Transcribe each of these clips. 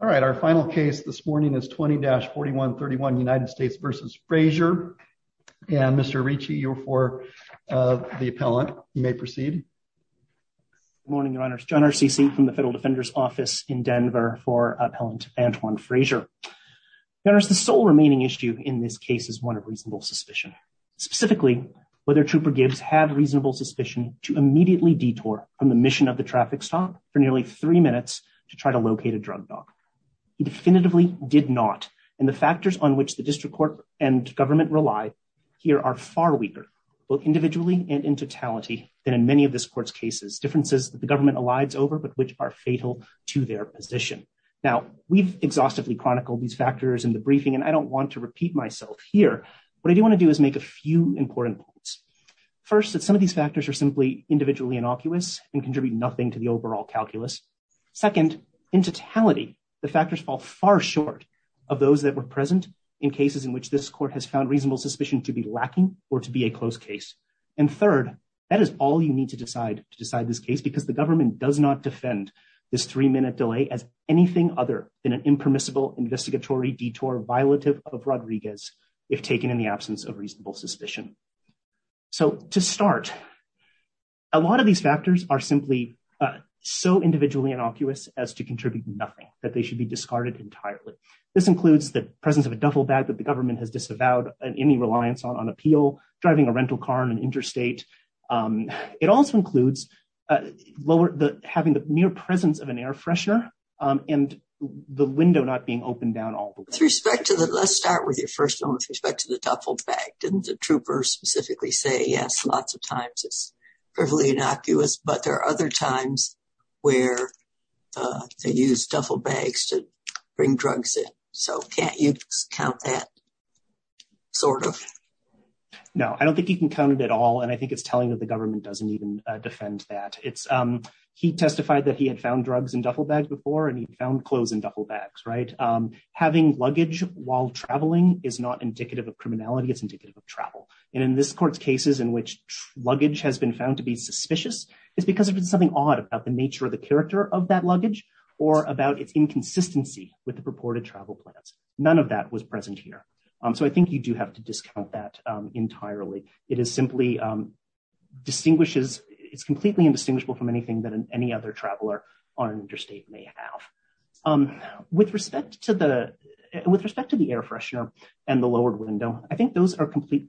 All right, our final case this morning is 20-4131 United States v. Frazier. And Mr. Ricci, you're for the appellant. You may proceed. Good morning, Your Honors. John R. Ceci from the Federal Defender's Office in Denver for Appellant Antwon Frazier. Your Honors, the sole remaining issue in this case is one of reasonable suspicion. Specifically, whether Trooper Gibbs had reasonable suspicion to immediately detour from the mission of the traffic stop for nearly three minutes to try to locate a drug dog. He definitively did not, and the factors on which the district court and government rely here are far weaker, both individually and in totality, than in many of this court's cases. Differences that the government elides over but which are fatal to their position. Now, we've exhaustively chronicled these factors in the briefing and I don't want to repeat myself here. What I do want to do is make a few important points. First, that some of these factors are simply individually innocuous and contribute nothing to the overall calculus. Second, in totality, the factors fall far short of those that were present in cases in which this court has found reasonable suspicion to be lacking or to be a close case. And third, that is all you need to decide to decide this case because the government does not defend this three minute delay as anything other than an impermissible investigatory detour violative of Rodriguez, if taken in the absence of reasonable suspicion. So, to start, a lot of these factors are simply so individually innocuous as to contribute nothing that they should be discarded entirely. This includes the presence of a duffel bag that the government has disavowed any reliance on appeal, driving a rental car in an interstate. It also includes having the mere presence of an air freshener and the window not being opened down all the way. Let's start with your first one with respect to the duffel bag. Didn't the troopers specifically say, yes, lots of times it's perfectly innocuous, but there are other times where they use duffel bags to bring drugs in. So can't you count that, sort of? No, I don't think you can count it at all and I think it's telling that the government doesn't even defend that. He testified that he had found drugs in duffel bags before and he found clothes in duffel bags, right? Having luggage while traveling is not indicative of criminality, it's indicative of travel. And in this court's cases in which luggage has been found to be suspicious, it's because there's been something odd about the nature of the character of that luggage or about its inconsistency with the purported travel plans. None of that was present here. So I think you do have to discount that entirely. It is completely indistinguishable from anything that any other traveler on an interstate may have. With respect to the air freshener and the lowered window, I think those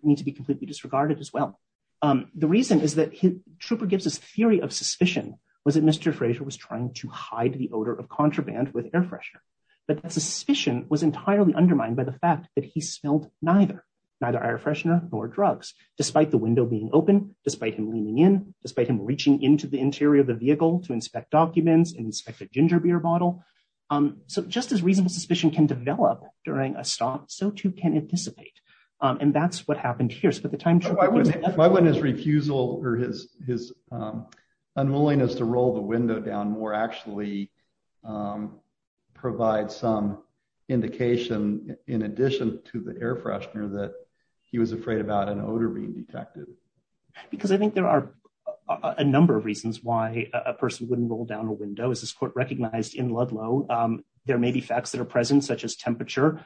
need to be completely disregarded as well. The reason is that Trooper Gibbs' theory of suspicion was that Mr. Fraser was trying to hide the odor of contraband with air freshener. But the suspicion was entirely undermined by the fact that he smelled neither, neither air freshener nor drugs, despite the window being open, despite him leaning in, despite him reaching into the interior of the vehicle to inspect documents and inspect a ginger beer bottle. So just as reasonable suspicion can develop during a stop, so too can it dissipate. And that's what happened here. So by the time Trooper Gibbs... Why wouldn't his refusal or his unwillingness to roll the window down more actually provide some indication in addition to the air freshener that he was afraid about an odor being detected? Because I think there are a number of reasons why a person wouldn't roll down a window, as this court recognized in Ludlow. There may be facts that are present, such as temperature,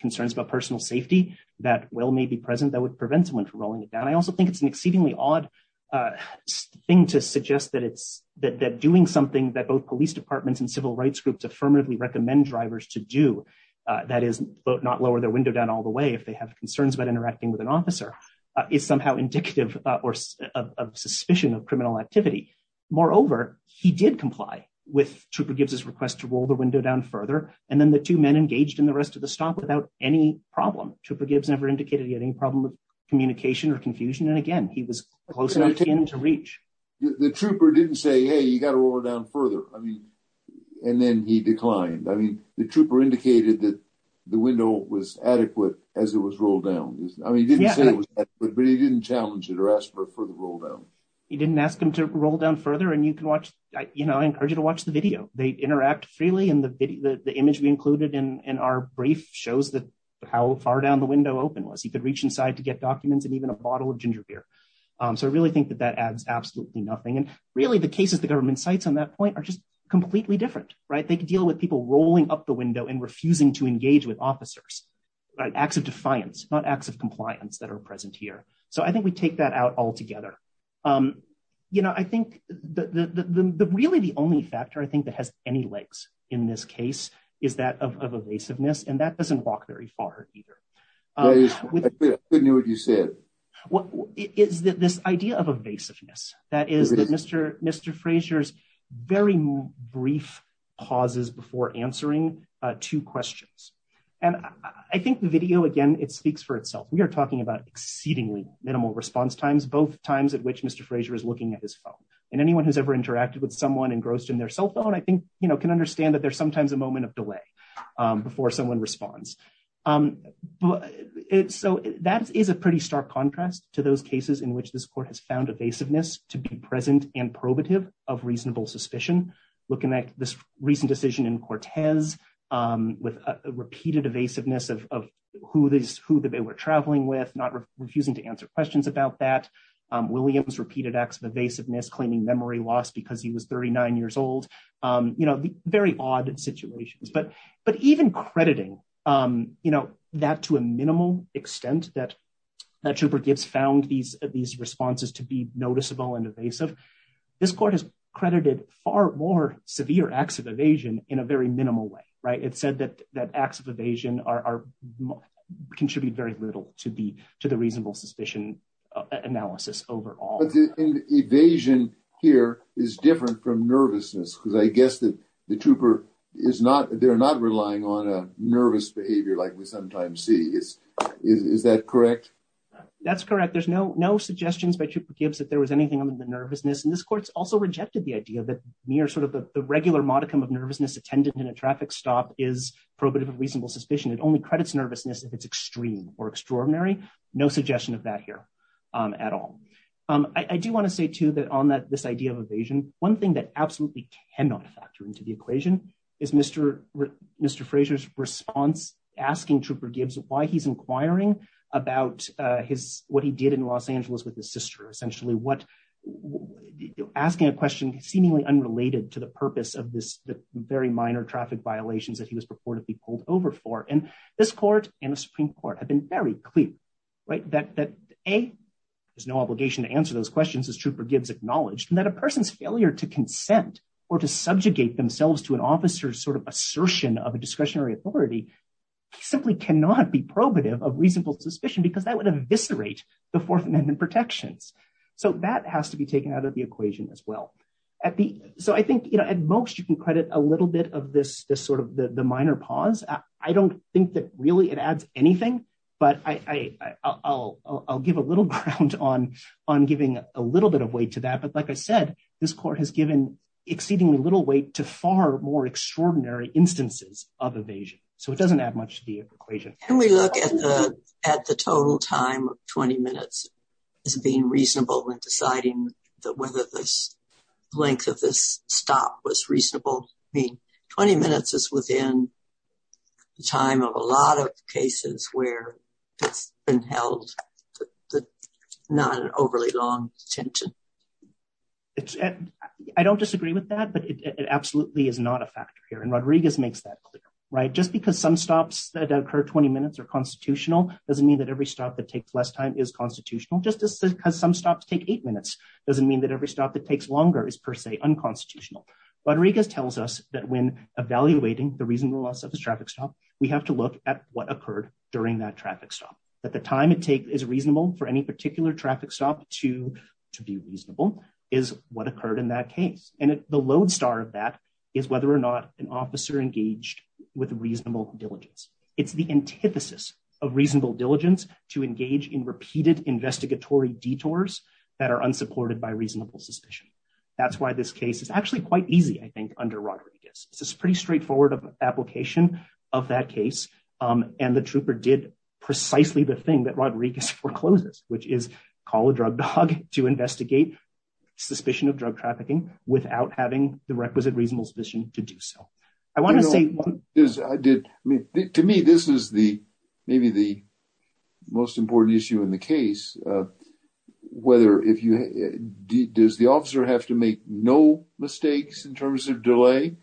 concerns about personal safety that well may be present that would prevent someone from rolling it down. I also think it's an exceedingly odd thing to suggest that doing something that both police departments and civil rights groups affirmatively recommend drivers to do, that is not lower their window down all the way if they have concerns about interacting with an officer, is somehow indicative of suspicion of criminal activity. Moreover, he did comply with Trooper Gibbs' request to roll the window down further. And then the two men engaged in the rest of the stop without any problem. Trooper Gibbs never indicated he had any problem with communication or confusion. And again, he was close enough to him to reach. The trooper didn't say, hey, you got to roll it down further. I mean, and then he declined. I mean, the trooper indicated that the window was adequate as it was rolled down. I mean, he didn't say it was adequate, but he didn't challenge it or ask for a further roll down. He didn't ask him to roll down further. And you can watch, you know, I encourage you to watch the video. They interact freely. And the image we included in our brief shows that how far down the window open was. You could reach inside to get documents and even a bottle of ginger beer. So I really think that that adds absolutely nothing. And really, the cases the government cites on that point are just completely different. Right. They can deal with people rolling up the window and refusing to engage with officers, acts of defiance, not acts of compliance that are present here. So I think we take that out altogether. You know, I think the really the only factor I think that has any legs in this case is that of evasiveness. And that doesn't walk very far either. I couldn't hear what you said. What is this idea of evasiveness? That is that Mr. Mr. Frazier's very brief pauses before answering two questions. And I think the video, again, it speaks for itself. We are talking about exceedingly minimal response times, both times at which Mr. Frazier is looking at his phone. And anyone who's ever interacted with someone engrossed in their cell phone, I think, you know, can understand that there's sometimes a moment of delay before someone responds. So that is a pretty stark contrast to those cases in which this court has found evasiveness to be present and probative of reasonable suspicion. Looking at this recent decision in Cortez with repeated evasiveness of who they were traveling with, not refusing to answer questions about that. Williams repeated acts of evasiveness, claiming memory loss because he was 39 years old. And, you know, very odd situations. But but even crediting, you know, that to a minimal extent that that trooper Gibbs found these these responses to be noticeable and evasive. This court has credited far more severe acts of evasion in a very minimal way. Right. It said that that acts of evasion are contribute very little to the to the reasonable suspicion analysis overall. But the evasion here is different from nervousness, because I guess that the trooper is not they're not relying on a nervous behavior like we sometimes see is. Is that correct. That's correct. There's no no suggestions by trooper Gibbs that there was anything on the nervousness. And this court's also rejected the idea that near sort of the regular modicum of nervousness attended in a traffic stop is probative of reasonable suspicion. It only credits nervousness if it's extreme or extraordinary. No suggestion of that here at all. I do want to say to that on that this idea of evasion. One thing that absolutely cannot factor into the equation is Mr. Mr. Frazier's response, asking trooper Gibbs why he's inquiring about his what he did in Los Angeles with his sister essentially what asking a question seemingly unrelated to the purpose of this very minor traffic violations that he was purported to be pulled over for and this court and the Supreme Court have been very clear, right, that a. There's no obligation to answer those questions as trooper Gibbs acknowledged and that a person's failure to consent or to subjugate themselves to an officer sort of assertion of a discretionary authority simply cannot be probative of reasonable suspicion because that would eviscerate the Fourth Amendment protections. So that has to be taken out of the equation as well. So I think you know at most you can credit a little bit of this this sort of the minor pause. I don't think that really it adds anything, but I'll give a little ground on on giving a little bit of weight to that but like I said, this court has given exceedingly little weight to far more extraordinary instances of evasion, so it doesn't add much to the equation. Can we look at the, at the total time of 20 minutes as being reasonable and deciding that whether this length of this stop was reasonable mean 20 minutes is within the time of a lot of cases where it's been held. Not overly long attention. I don't disagree with that but it absolutely is not a factor here and Rodriguez makes that clear, right, just because some stops that occur 20 minutes or constitutional doesn't mean that every stop that takes less time is constitutional justice because some stops take eight minutes doesn't mean that every stop that takes longer is per se unconstitutional Rodriguez tells us that when evaluating the reason the loss of the traffic stop, we have to look at what occurred during that traffic stop at the time it takes is reasonable for any particular traffic stop to to be reasonable is what occurred in that case, and the lodestar of that is whether or not an officer engaged with reasonable diligence. It's the antithesis of reasonable diligence to engage in repeated investigatory detours that are unsupported by reasonable suspicion. That's why this case is actually quite easy I think under Rodriguez, it's pretty straightforward of application of that case. And the trooper did precisely the thing that Rodriguez forecloses, which is called a drug dog to investigate suspicion of drug trafficking, without having the requisite reasonable suspicion to do so. I want to say is I did to me this is the maybe the most important issue in the case, whether if you did this the officer have to make no mistakes in terms of delay.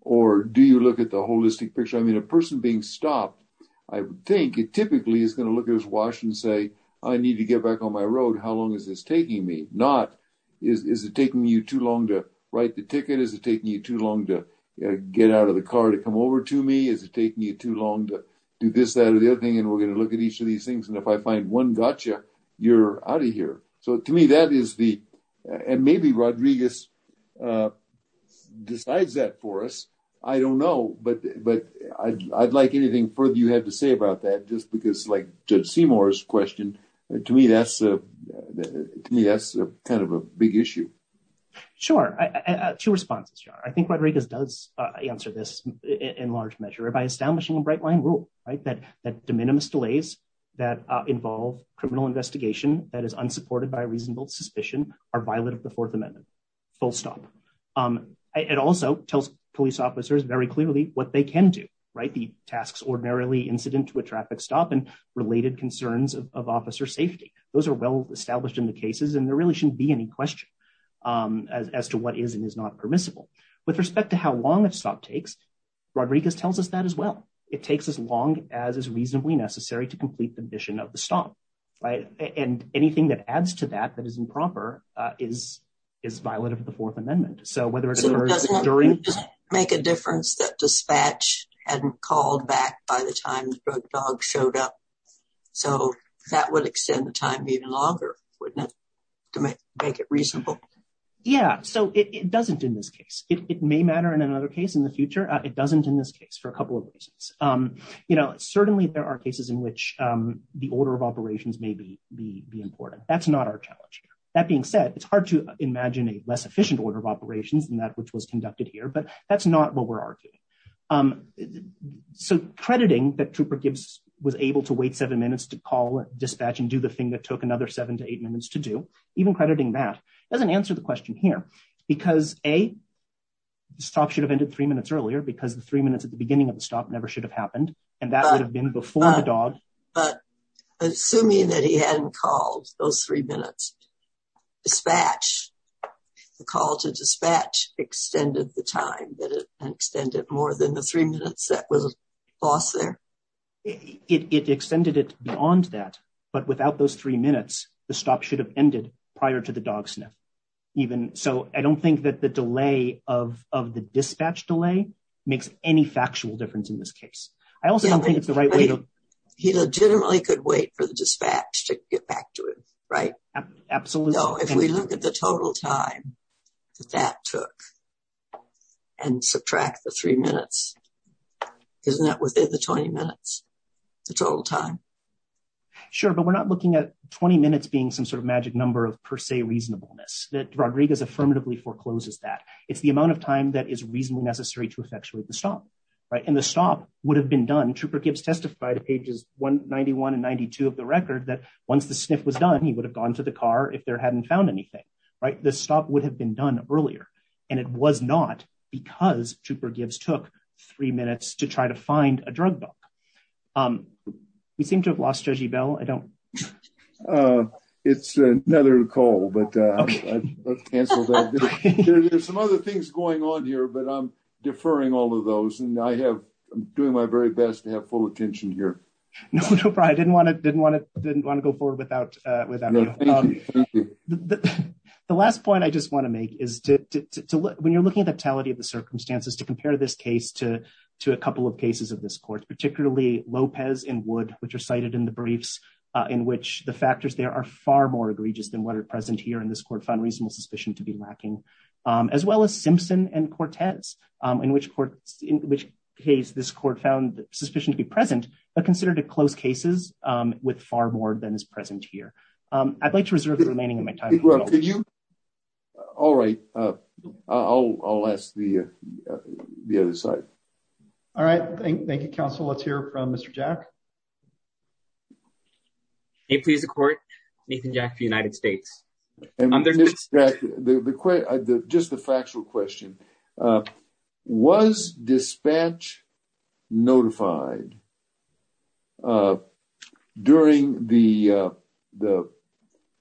Or do you look at the holistic picture I mean a person being stopped, I think it typically is going to look at his Washington say, I need to get back on my road how long is this taking me not is it taking you too long to write the ticket is it taking you too long to get out of the car to come over to me is it taking you too long to do this that or the other thing and we're going to look at each of these things and if I find one gotcha, you're out of here. So to me that is the, and maybe Rodriguez decides that for us. I don't know, but, but I'd like anything further you had to say about that just because like just Seymour's question to me that's me that's kind of a big issue. Sure, to response. I think Rodriguez does answer this in large measure by establishing a bright line rule right that that de minimis delays that involve criminal investigation that is unsupported by reasonable suspicion are violated the Fourth Amendment full It also tells police officers very clearly what they can do right the tasks ordinarily incident to a traffic stop and related concerns of officer safety, those are well established in the cases and there really shouldn't be any question as to what is and is not permissible with respect to how long it's not takes Rodriguez tells us that as well. It takes as long as is reasonably necessary to complete the mission of the stop right and anything that adds to that that is improper is is violated the Fourth Amendment. So whether it doesn't make a difference that dispatch and called back by the time the dog showed up. So, that would extend the time even longer, wouldn't it make it reasonable. Yeah, so it doesn't in this case, it may matter in another case in the future, it doesn't in this case for a couple of reasons. You know, certainly there are cases in which the order of operations may be the important that's not our challenge. That being said, it's hard to imagine a less efficient order of operations and that which was conducted here but that's not what we're arguing. So crediting that trooper Gibbs was able to wait seven minutes to call dispatch and do the thing that took another seven to eight minutes to do even crediting that doesn't answer the question here, because a stop should have ended three minutes earlier because the three minutes before the beginning of the stop never should have happened. And that would have been before the dog, but assuming that he hadn't called those three minutes, dispatch the call to dispatch extended the time that extended more than the three minutes that was lost there. It extended it beyond that, but without those three minutes, the stop should have ended prior to the dog sniff. Even so, I don't think that the delay of of the dispatch delay makes any factual difference in this case. I also don't think it's the right way. He legitimately could wait for the dispatch to get back to it. Right. Absolutely. No, if we look at the total time that took and subtract the three minutes. Isn't that within the 20 minutes. The total time. Sure, but we're not looking at 20 minutes being some sort of magic number of per se reasonableness that Rodriguez affirmatively forecloses that it's the amount of time that is reasonably necessary to effectuate the stop right and the stop would have been done testified pages 191 and 92 of the record that once the sniff was done he would have gone to the car if there hadn't found anything right the stop would have been done earlier. And it was not because trooper gives took three minutes to try to find a drug book. We seem to have lost Jersey Bell I don't. It's another call but there's some other things going on here but I'm deferring all of those and I have doing my very best to have full attention here. I didn't want to didn't want to didn't want to go forward without without the last point I just want to make is to look when you're looking at the totality of the circumstances to compare this case to to a couple of cases of this court, particularly Lopez in wood, which are cited in the briefs, in which the factors there are far more egregious than what are present here in this court fund reasonable suspicion to be lacking, as well as Simpson and Cortez, in which in which case this court found sufficient to be present, but considered a close cases with far more than is present here. I'd like to reserve the remaining of my time. All right. Oh, I'll ask the, the other side. All right, thank you counsel let's hear from Mr. Jack. Hey please the court. Nathan jack the United States. The, the, the, just the factual question was dispatch notified. During the, the,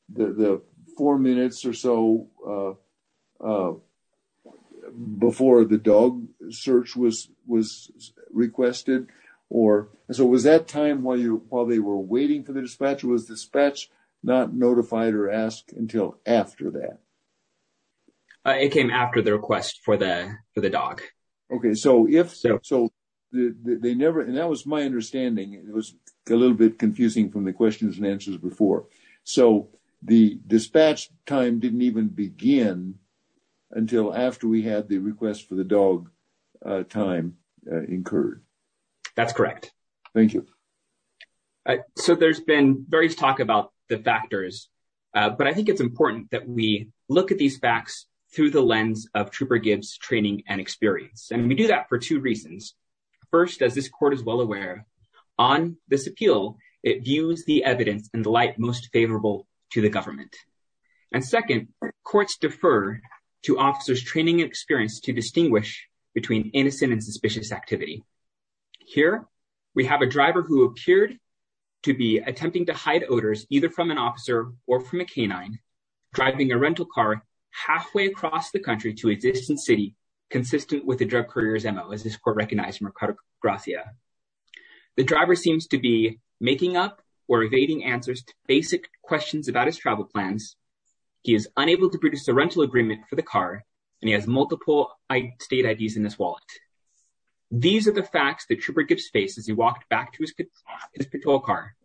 the four minutes or so. Before the dog search was was requested, or so was that time while you while they were waiting for the dispatch was dispatch, not notified or ask until after that. It came after the request for the, for the dog. Okay, so if so, so they never and that was my understanding, it was a little bit confusing from the questions and answers before. So, the dispatch time didn't even begin until after we had the request for the dog time incurred. That's correct. Thank you. So there's been various talk about the factors, but I think it's important that we look at these facts through the lens of trooper Gibbs training and experience and we do that for two reasons. First, as this court is well aware on this appeal, it views the evidence and the light most favorable to the government. And second courts defer to officers training experience to distinguish between innocent and suspicious activity. Here, we have a driver who appeared to be attempting to hide odors, either from an officer, or from a canine driving a rental car, halfway across the country to exist in city, consistent with the drug couriers mo is this court recognized Mercado, The driver seems to be making up or evading answers to basic questions about his travel plans. He is unable to produce a rental agreement for the car, and he has multiple state IDs in this wallet. These are the facts that trooper Gibbs faces he walked back to his, his patrol car.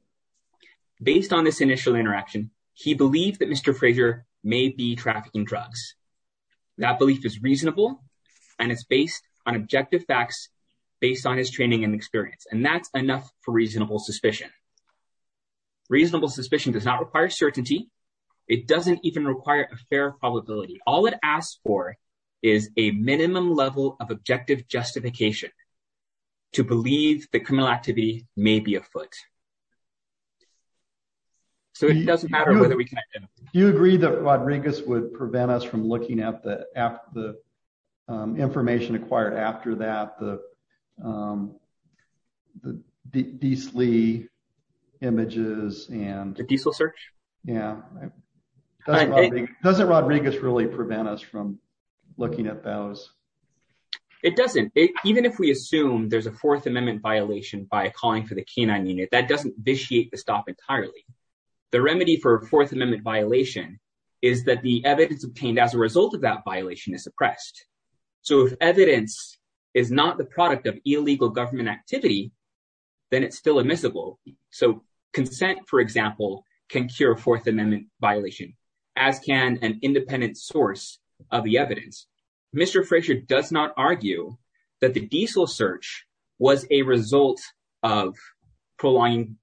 Based on this initial interaction, he believed that Mr. Fraser may be trafficking drugs. That belief is reasonable. And it's based on objective facts, based on his training and experience and that's enough for reasonable suspicion. Reasonable suspicion does not require certainty. It doesn't even require a fair probability, all it asks for is a minimum level of objective justification to believe the criminal activity, maybe a foot. So it doesn't matter whether we can. You agree that Rodriguez would prevent us from looking at the, after the information acquired after that the, the DS Lee images and diesel search. Yeah. Doesn't Rodriguez really prevent us from looking at those. It doesn't even if we assume there's a Fourth Amendment violation by calling for the canine unit that doesn't vitiate the stop entirely. The remedy for Fourth Amendment violation is that the evidence obtained as a result of that violation is suppressed. So if evidence is not the product of illegal government activity, then it's still admissible. So, consent, for example, can cure Fourth Amendment violation, as can an independent source of the evidence. Mr Frazier does not argue that the diesel search was a result of prolonging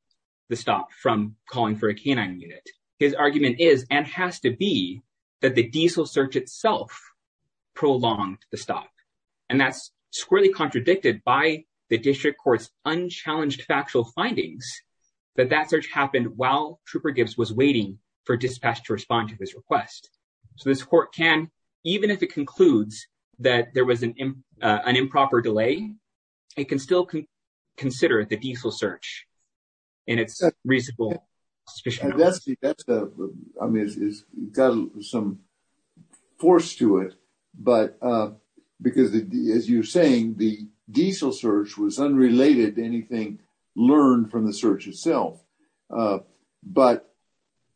the stop from calling for a canine unit. His argument is, and has to be that the diesel search itself prolonged the stop. And that's squarely contradicted by the district courts unchallenged factual findings that that search happened while trooper Gibbs was waiting for dispatch to respond to this request. So this court can, even if it concludes that there was an improper delay, it can still consider the diesel search. And it's reasonable. I mean, it's got some force to it. But because, as you're saying, the diesel search was unrelated to anything learned from the search itself. But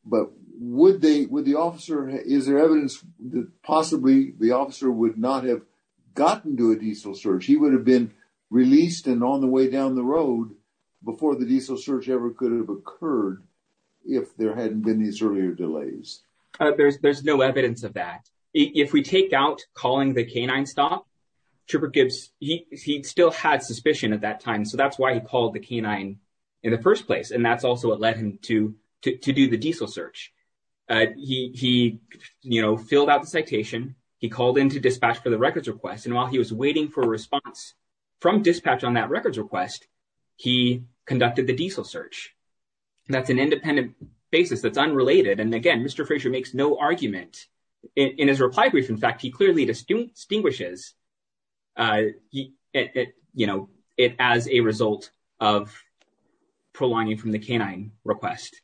would the officer, is there evidence that possibly the officer would not have gotten to a diesel search? He would have been released and on the way down the road before the diesel search ever could have occurred if there hadn't been these earlier delays. There's no evidence of that. If we take out calling the canine stop, Trooper Gibbs, he still had suspicion at that time. So that's why he called the canine in the first place. And that's also what led him to do the diesel search. He filled out the citation. He called in to dispatch for the records request. And while he was waiting for a response from dispatch on that records request, he conducted the diesel search. That's an independent basis that's unrelated. And again, Mr. Frazier makes no argument. In his reply brief, in fact, he clearly distinguishes it as a result of prolonging from the canine request.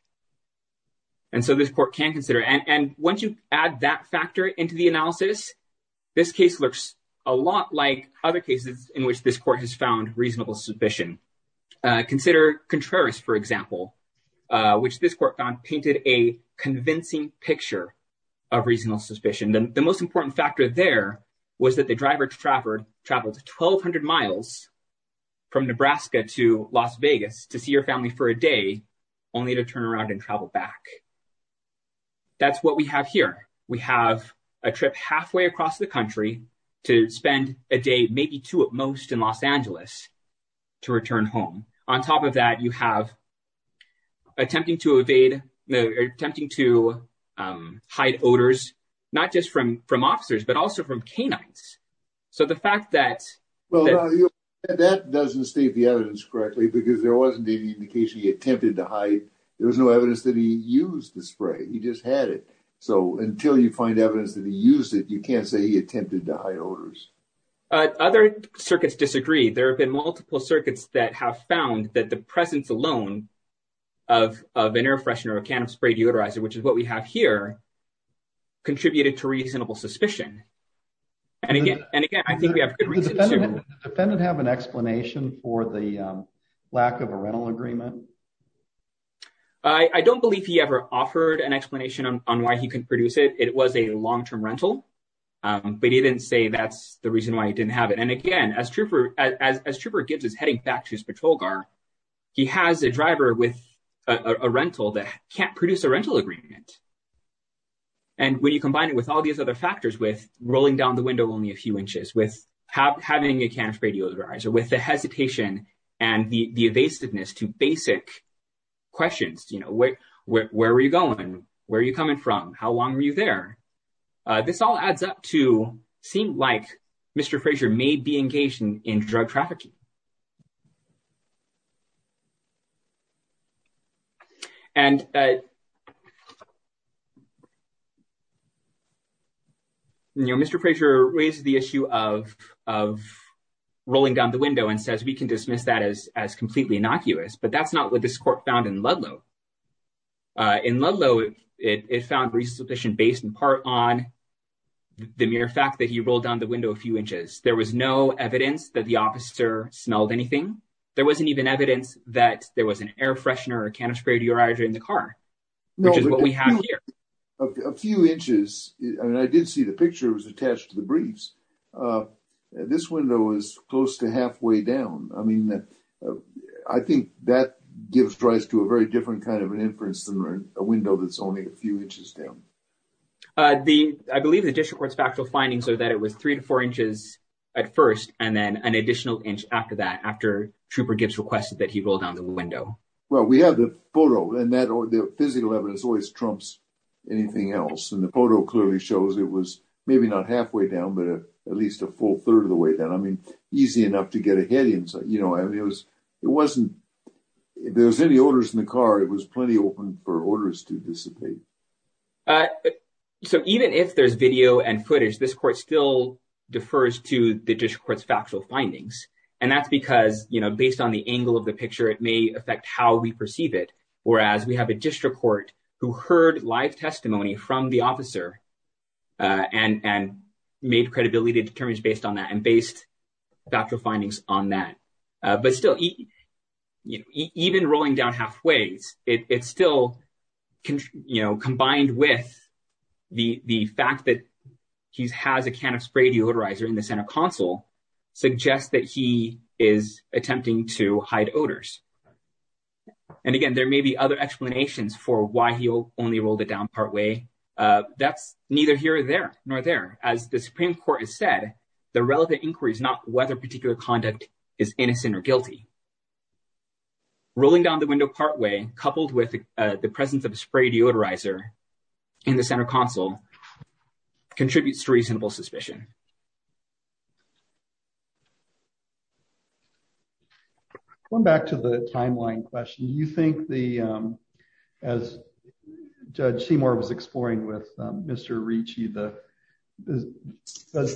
And so this court can consider. And once you add that factor into the analysis, this case looks a lot like other cases in which this court has found reasonable suspicion. Consider Contreras, for example, which this court found painted a convincing picture of reasonable suspicion. The most important factor there was that the driver traveled 1,200 miles from Nebraska to Las Vegas to see her family for a day, only to turn around and travel back. That's what we have here. We have a trip halfway across the country to spend a day, maybe two at most, in Los Angeles to return home. On top of that, you have attempting to evade attempting to hide odors, not just from from officers, but also from canines. So the fact that that doesn't state the evidence correctly, because there wasn't any indication he attempted to hide. There was no evidence that he used the spray. He just had it. So until you find evidence that he used it, you can't say he attempted to hide odors. Other circuits disagree. There have been multiple circuits that have found that the presence alone of an air freshener, a can of spray deodorizer, which is what we have here, contributed to reasonable suspicion. And again, and again, I think we have a defendant have an explanation for the lack of a rental agreement. I don't believe he ever offered an explanation on why he can produce it. It was a long term rental, but he didn't say that's the reason why he didn't have it. And again, as trooper as trooper Gibbs is heading back to his patrol car, he has a driver with a rental that can't produce a rental agreement. And when you combine it with all these other factors with rolling down the window only a few inches with having a can of spray deodorizer with the hesitation and the evasiveness to basic questions, you know, where, where are you going? Where are you coming from? How long were you there? This all adds up to seem like Mr. Frazier may be engaged in drug trafficking. And. Mr. Frazier raises the issue of of rolling down the window and says we can dismiss that as as completely innocuous, but that's not what this court found in Ludlow. In Ludlow, it found resubmission based in part on the mere fact that he rolled down the window a few inches. There was no evidence that the officer smelled anything. There wasn't even evidence that there was an air freshener or can of spray deodorizer in the car, which is what we have here. A few inches, and I did see the picture was attached to the briefs. This window is close to halfway down. I mean, I think that gives rise to a very different kind of an inference than a window that's only a few inches down. The I believe the district court's factual findings are that it was three to four inches at first, and then an additional inch after that, after Trooper Gibbs requested that he rolled down the window. Well, we have the photo and that or the physical evidence always trumps anything else. And the photo clearly shows it was maybe not halfway down, but at least a full third of the way down. I mean, easy enough to get ahead. You know, it was it wasn't there's any orders in the car. It was plenty open for orders to dissipate. So even if there's video and footage, this court still defers to the district court's factual findings. And that's because, you know, based on the angle of the picture, it may affect how we perceive it. Whereas we have a district court who heard live testimony from the officer and made credibility to determine based on that and based factual findings on that. But still, even rolling down halfway, it's still, you know, combined with the fact that he has a can of spray deodorizer in the center console suggests that he is attempting to hide odors. And again, there may be other explanations for why he only rolled it down partway. That's neither here or there, nor there. As the Supreme Court has said, the relevant inquiry is not whether particular conduct is innocent or guilty. Rolling down the window partway coupled with the presence of a spray deodorizer in the center console contributes to reasonable suspicion. Okay. Going back to the timeline question, do you think the, as Judge Seymour was exploring with Mr. Ricci, does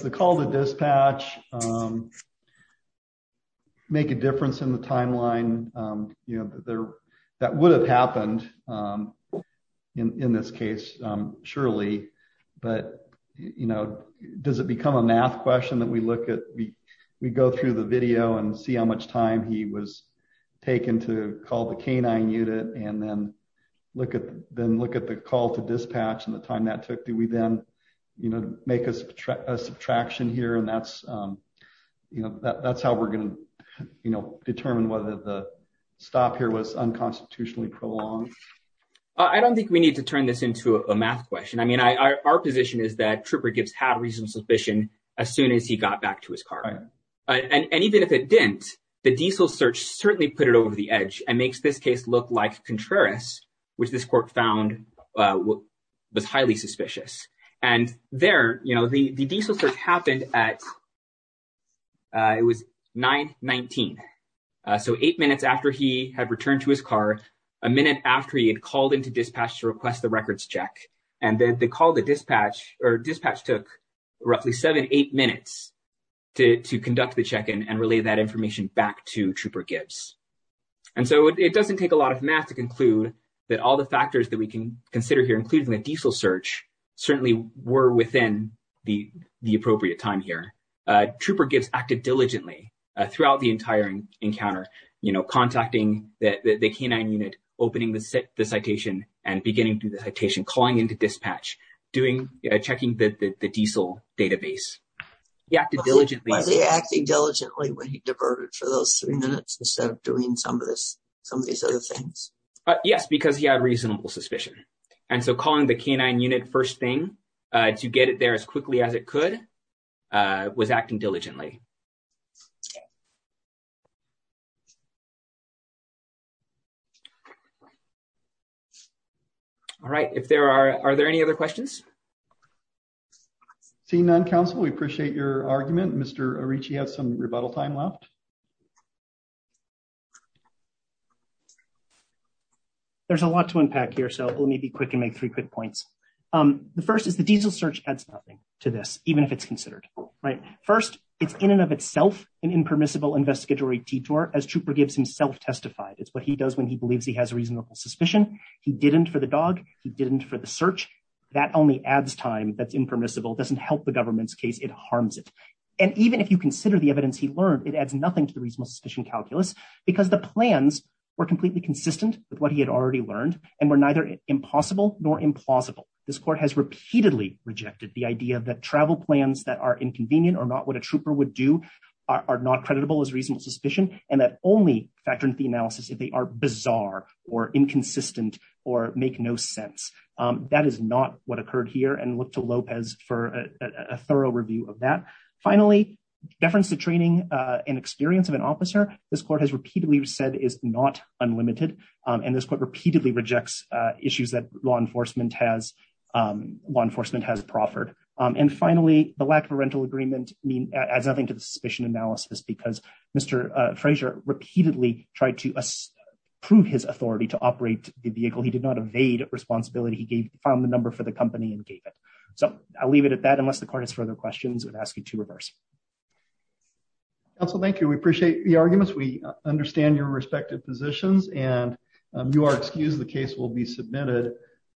the call to dispatch make a difference in the timeline? That would have happened in this case, surely. But, you know, does it become a math question that we look at, we go through the video and see how much time he was taken to call the canine unit and then look at the call to dispatch and the time that took? Do we then, you know, make a subtraction here and that's, you know, that's how we're going to, you know, determine whether the stop here was unconstitutionally prolonged? I don't think we need to turn this into a math question. I mean, our position is that Trooper Gibbs had reasonable suspicion as soon as he got back to his car. And even if it didn't, the diesel search certainly put it over the edge and makes this case look like Contreras, which this court found was highly suspicious. And there, you know, the diesel search happened at, it was 9-19. So eight minutes after he had returned to his car, a minute after he had called into dispatch to request the records check, and then the call to dispatch, or dispatch took roughly seven, eight minutes to conduct the check-in and relay that information back to Trooper Gibbs. And so it doesn't take a lot of math to conclude that all the factors that we can consider here, including the diesel search, certainly were within the appropriate time here. Trooper Gibbs acted diligently throughout the entire encounter, you know, contacting the K-9 unit, opening the citation, and beginning to do the citation, calling into dispatch, doing, checking the diesel database. He acted diligently. Was he acting diligently when he diverted for those three minutes instead of doing some of this, some of these other things? Yes, because he had reasonable suspicion. And so calling the K-9 unit first thing to get it there as quickly as it could was acting diligently. All right, if there are, are there any other questions? Seeing none, counsel, we appreciate your argument. Mr. Arici has some rebuttal time left. There's a lot to unpack here, so let me be quick and make three quick points. The first is the diesel search adds nothing to this, even if it's considered. Right. First, it's in and of itself an impermissible investigatory detour, as Trooper Gibbs himself testified. It's what he does when he believes he has reasonable suspicion. He didn't for the dog. He didn't for the search. That only adds time that's impermissible, doesn't help the government's case. It harms it. And even if you consider the evidence he learned, it adds nothing to the reasonable suspicion calculus, because the plans were completely consistent with what he had already learned and were neither impossible nor implausible. This court has repeatedly rejected the idea that travel plans that are inconvenient or not what a trooper would do are not creditable as reasonable suspicion, and that only factor into the analysis if they are bizarre or inconsistent or make no sense. That is not what occurred here and look to Lopez for a thorough review of that. Finally, deference to training and experience of an officer, this court has repeatedly said is not unlimited, and this court repeatedly rejects issues that law enforcement has law enforcement has proffered. And finally, the lack of a rental agreement mean as nothing to the suspicion analysis because Mr. Frazier repeatedly tried to prove his authority to operate the vehicle he did not evade responsibility he gave found the number for the company and gave it. So, I'll leave it at that unless the corners for other questions and ask you to reverse. Also, thank you. We appreciate the arguments we understand your respective positions and you are excused the case will be submitted.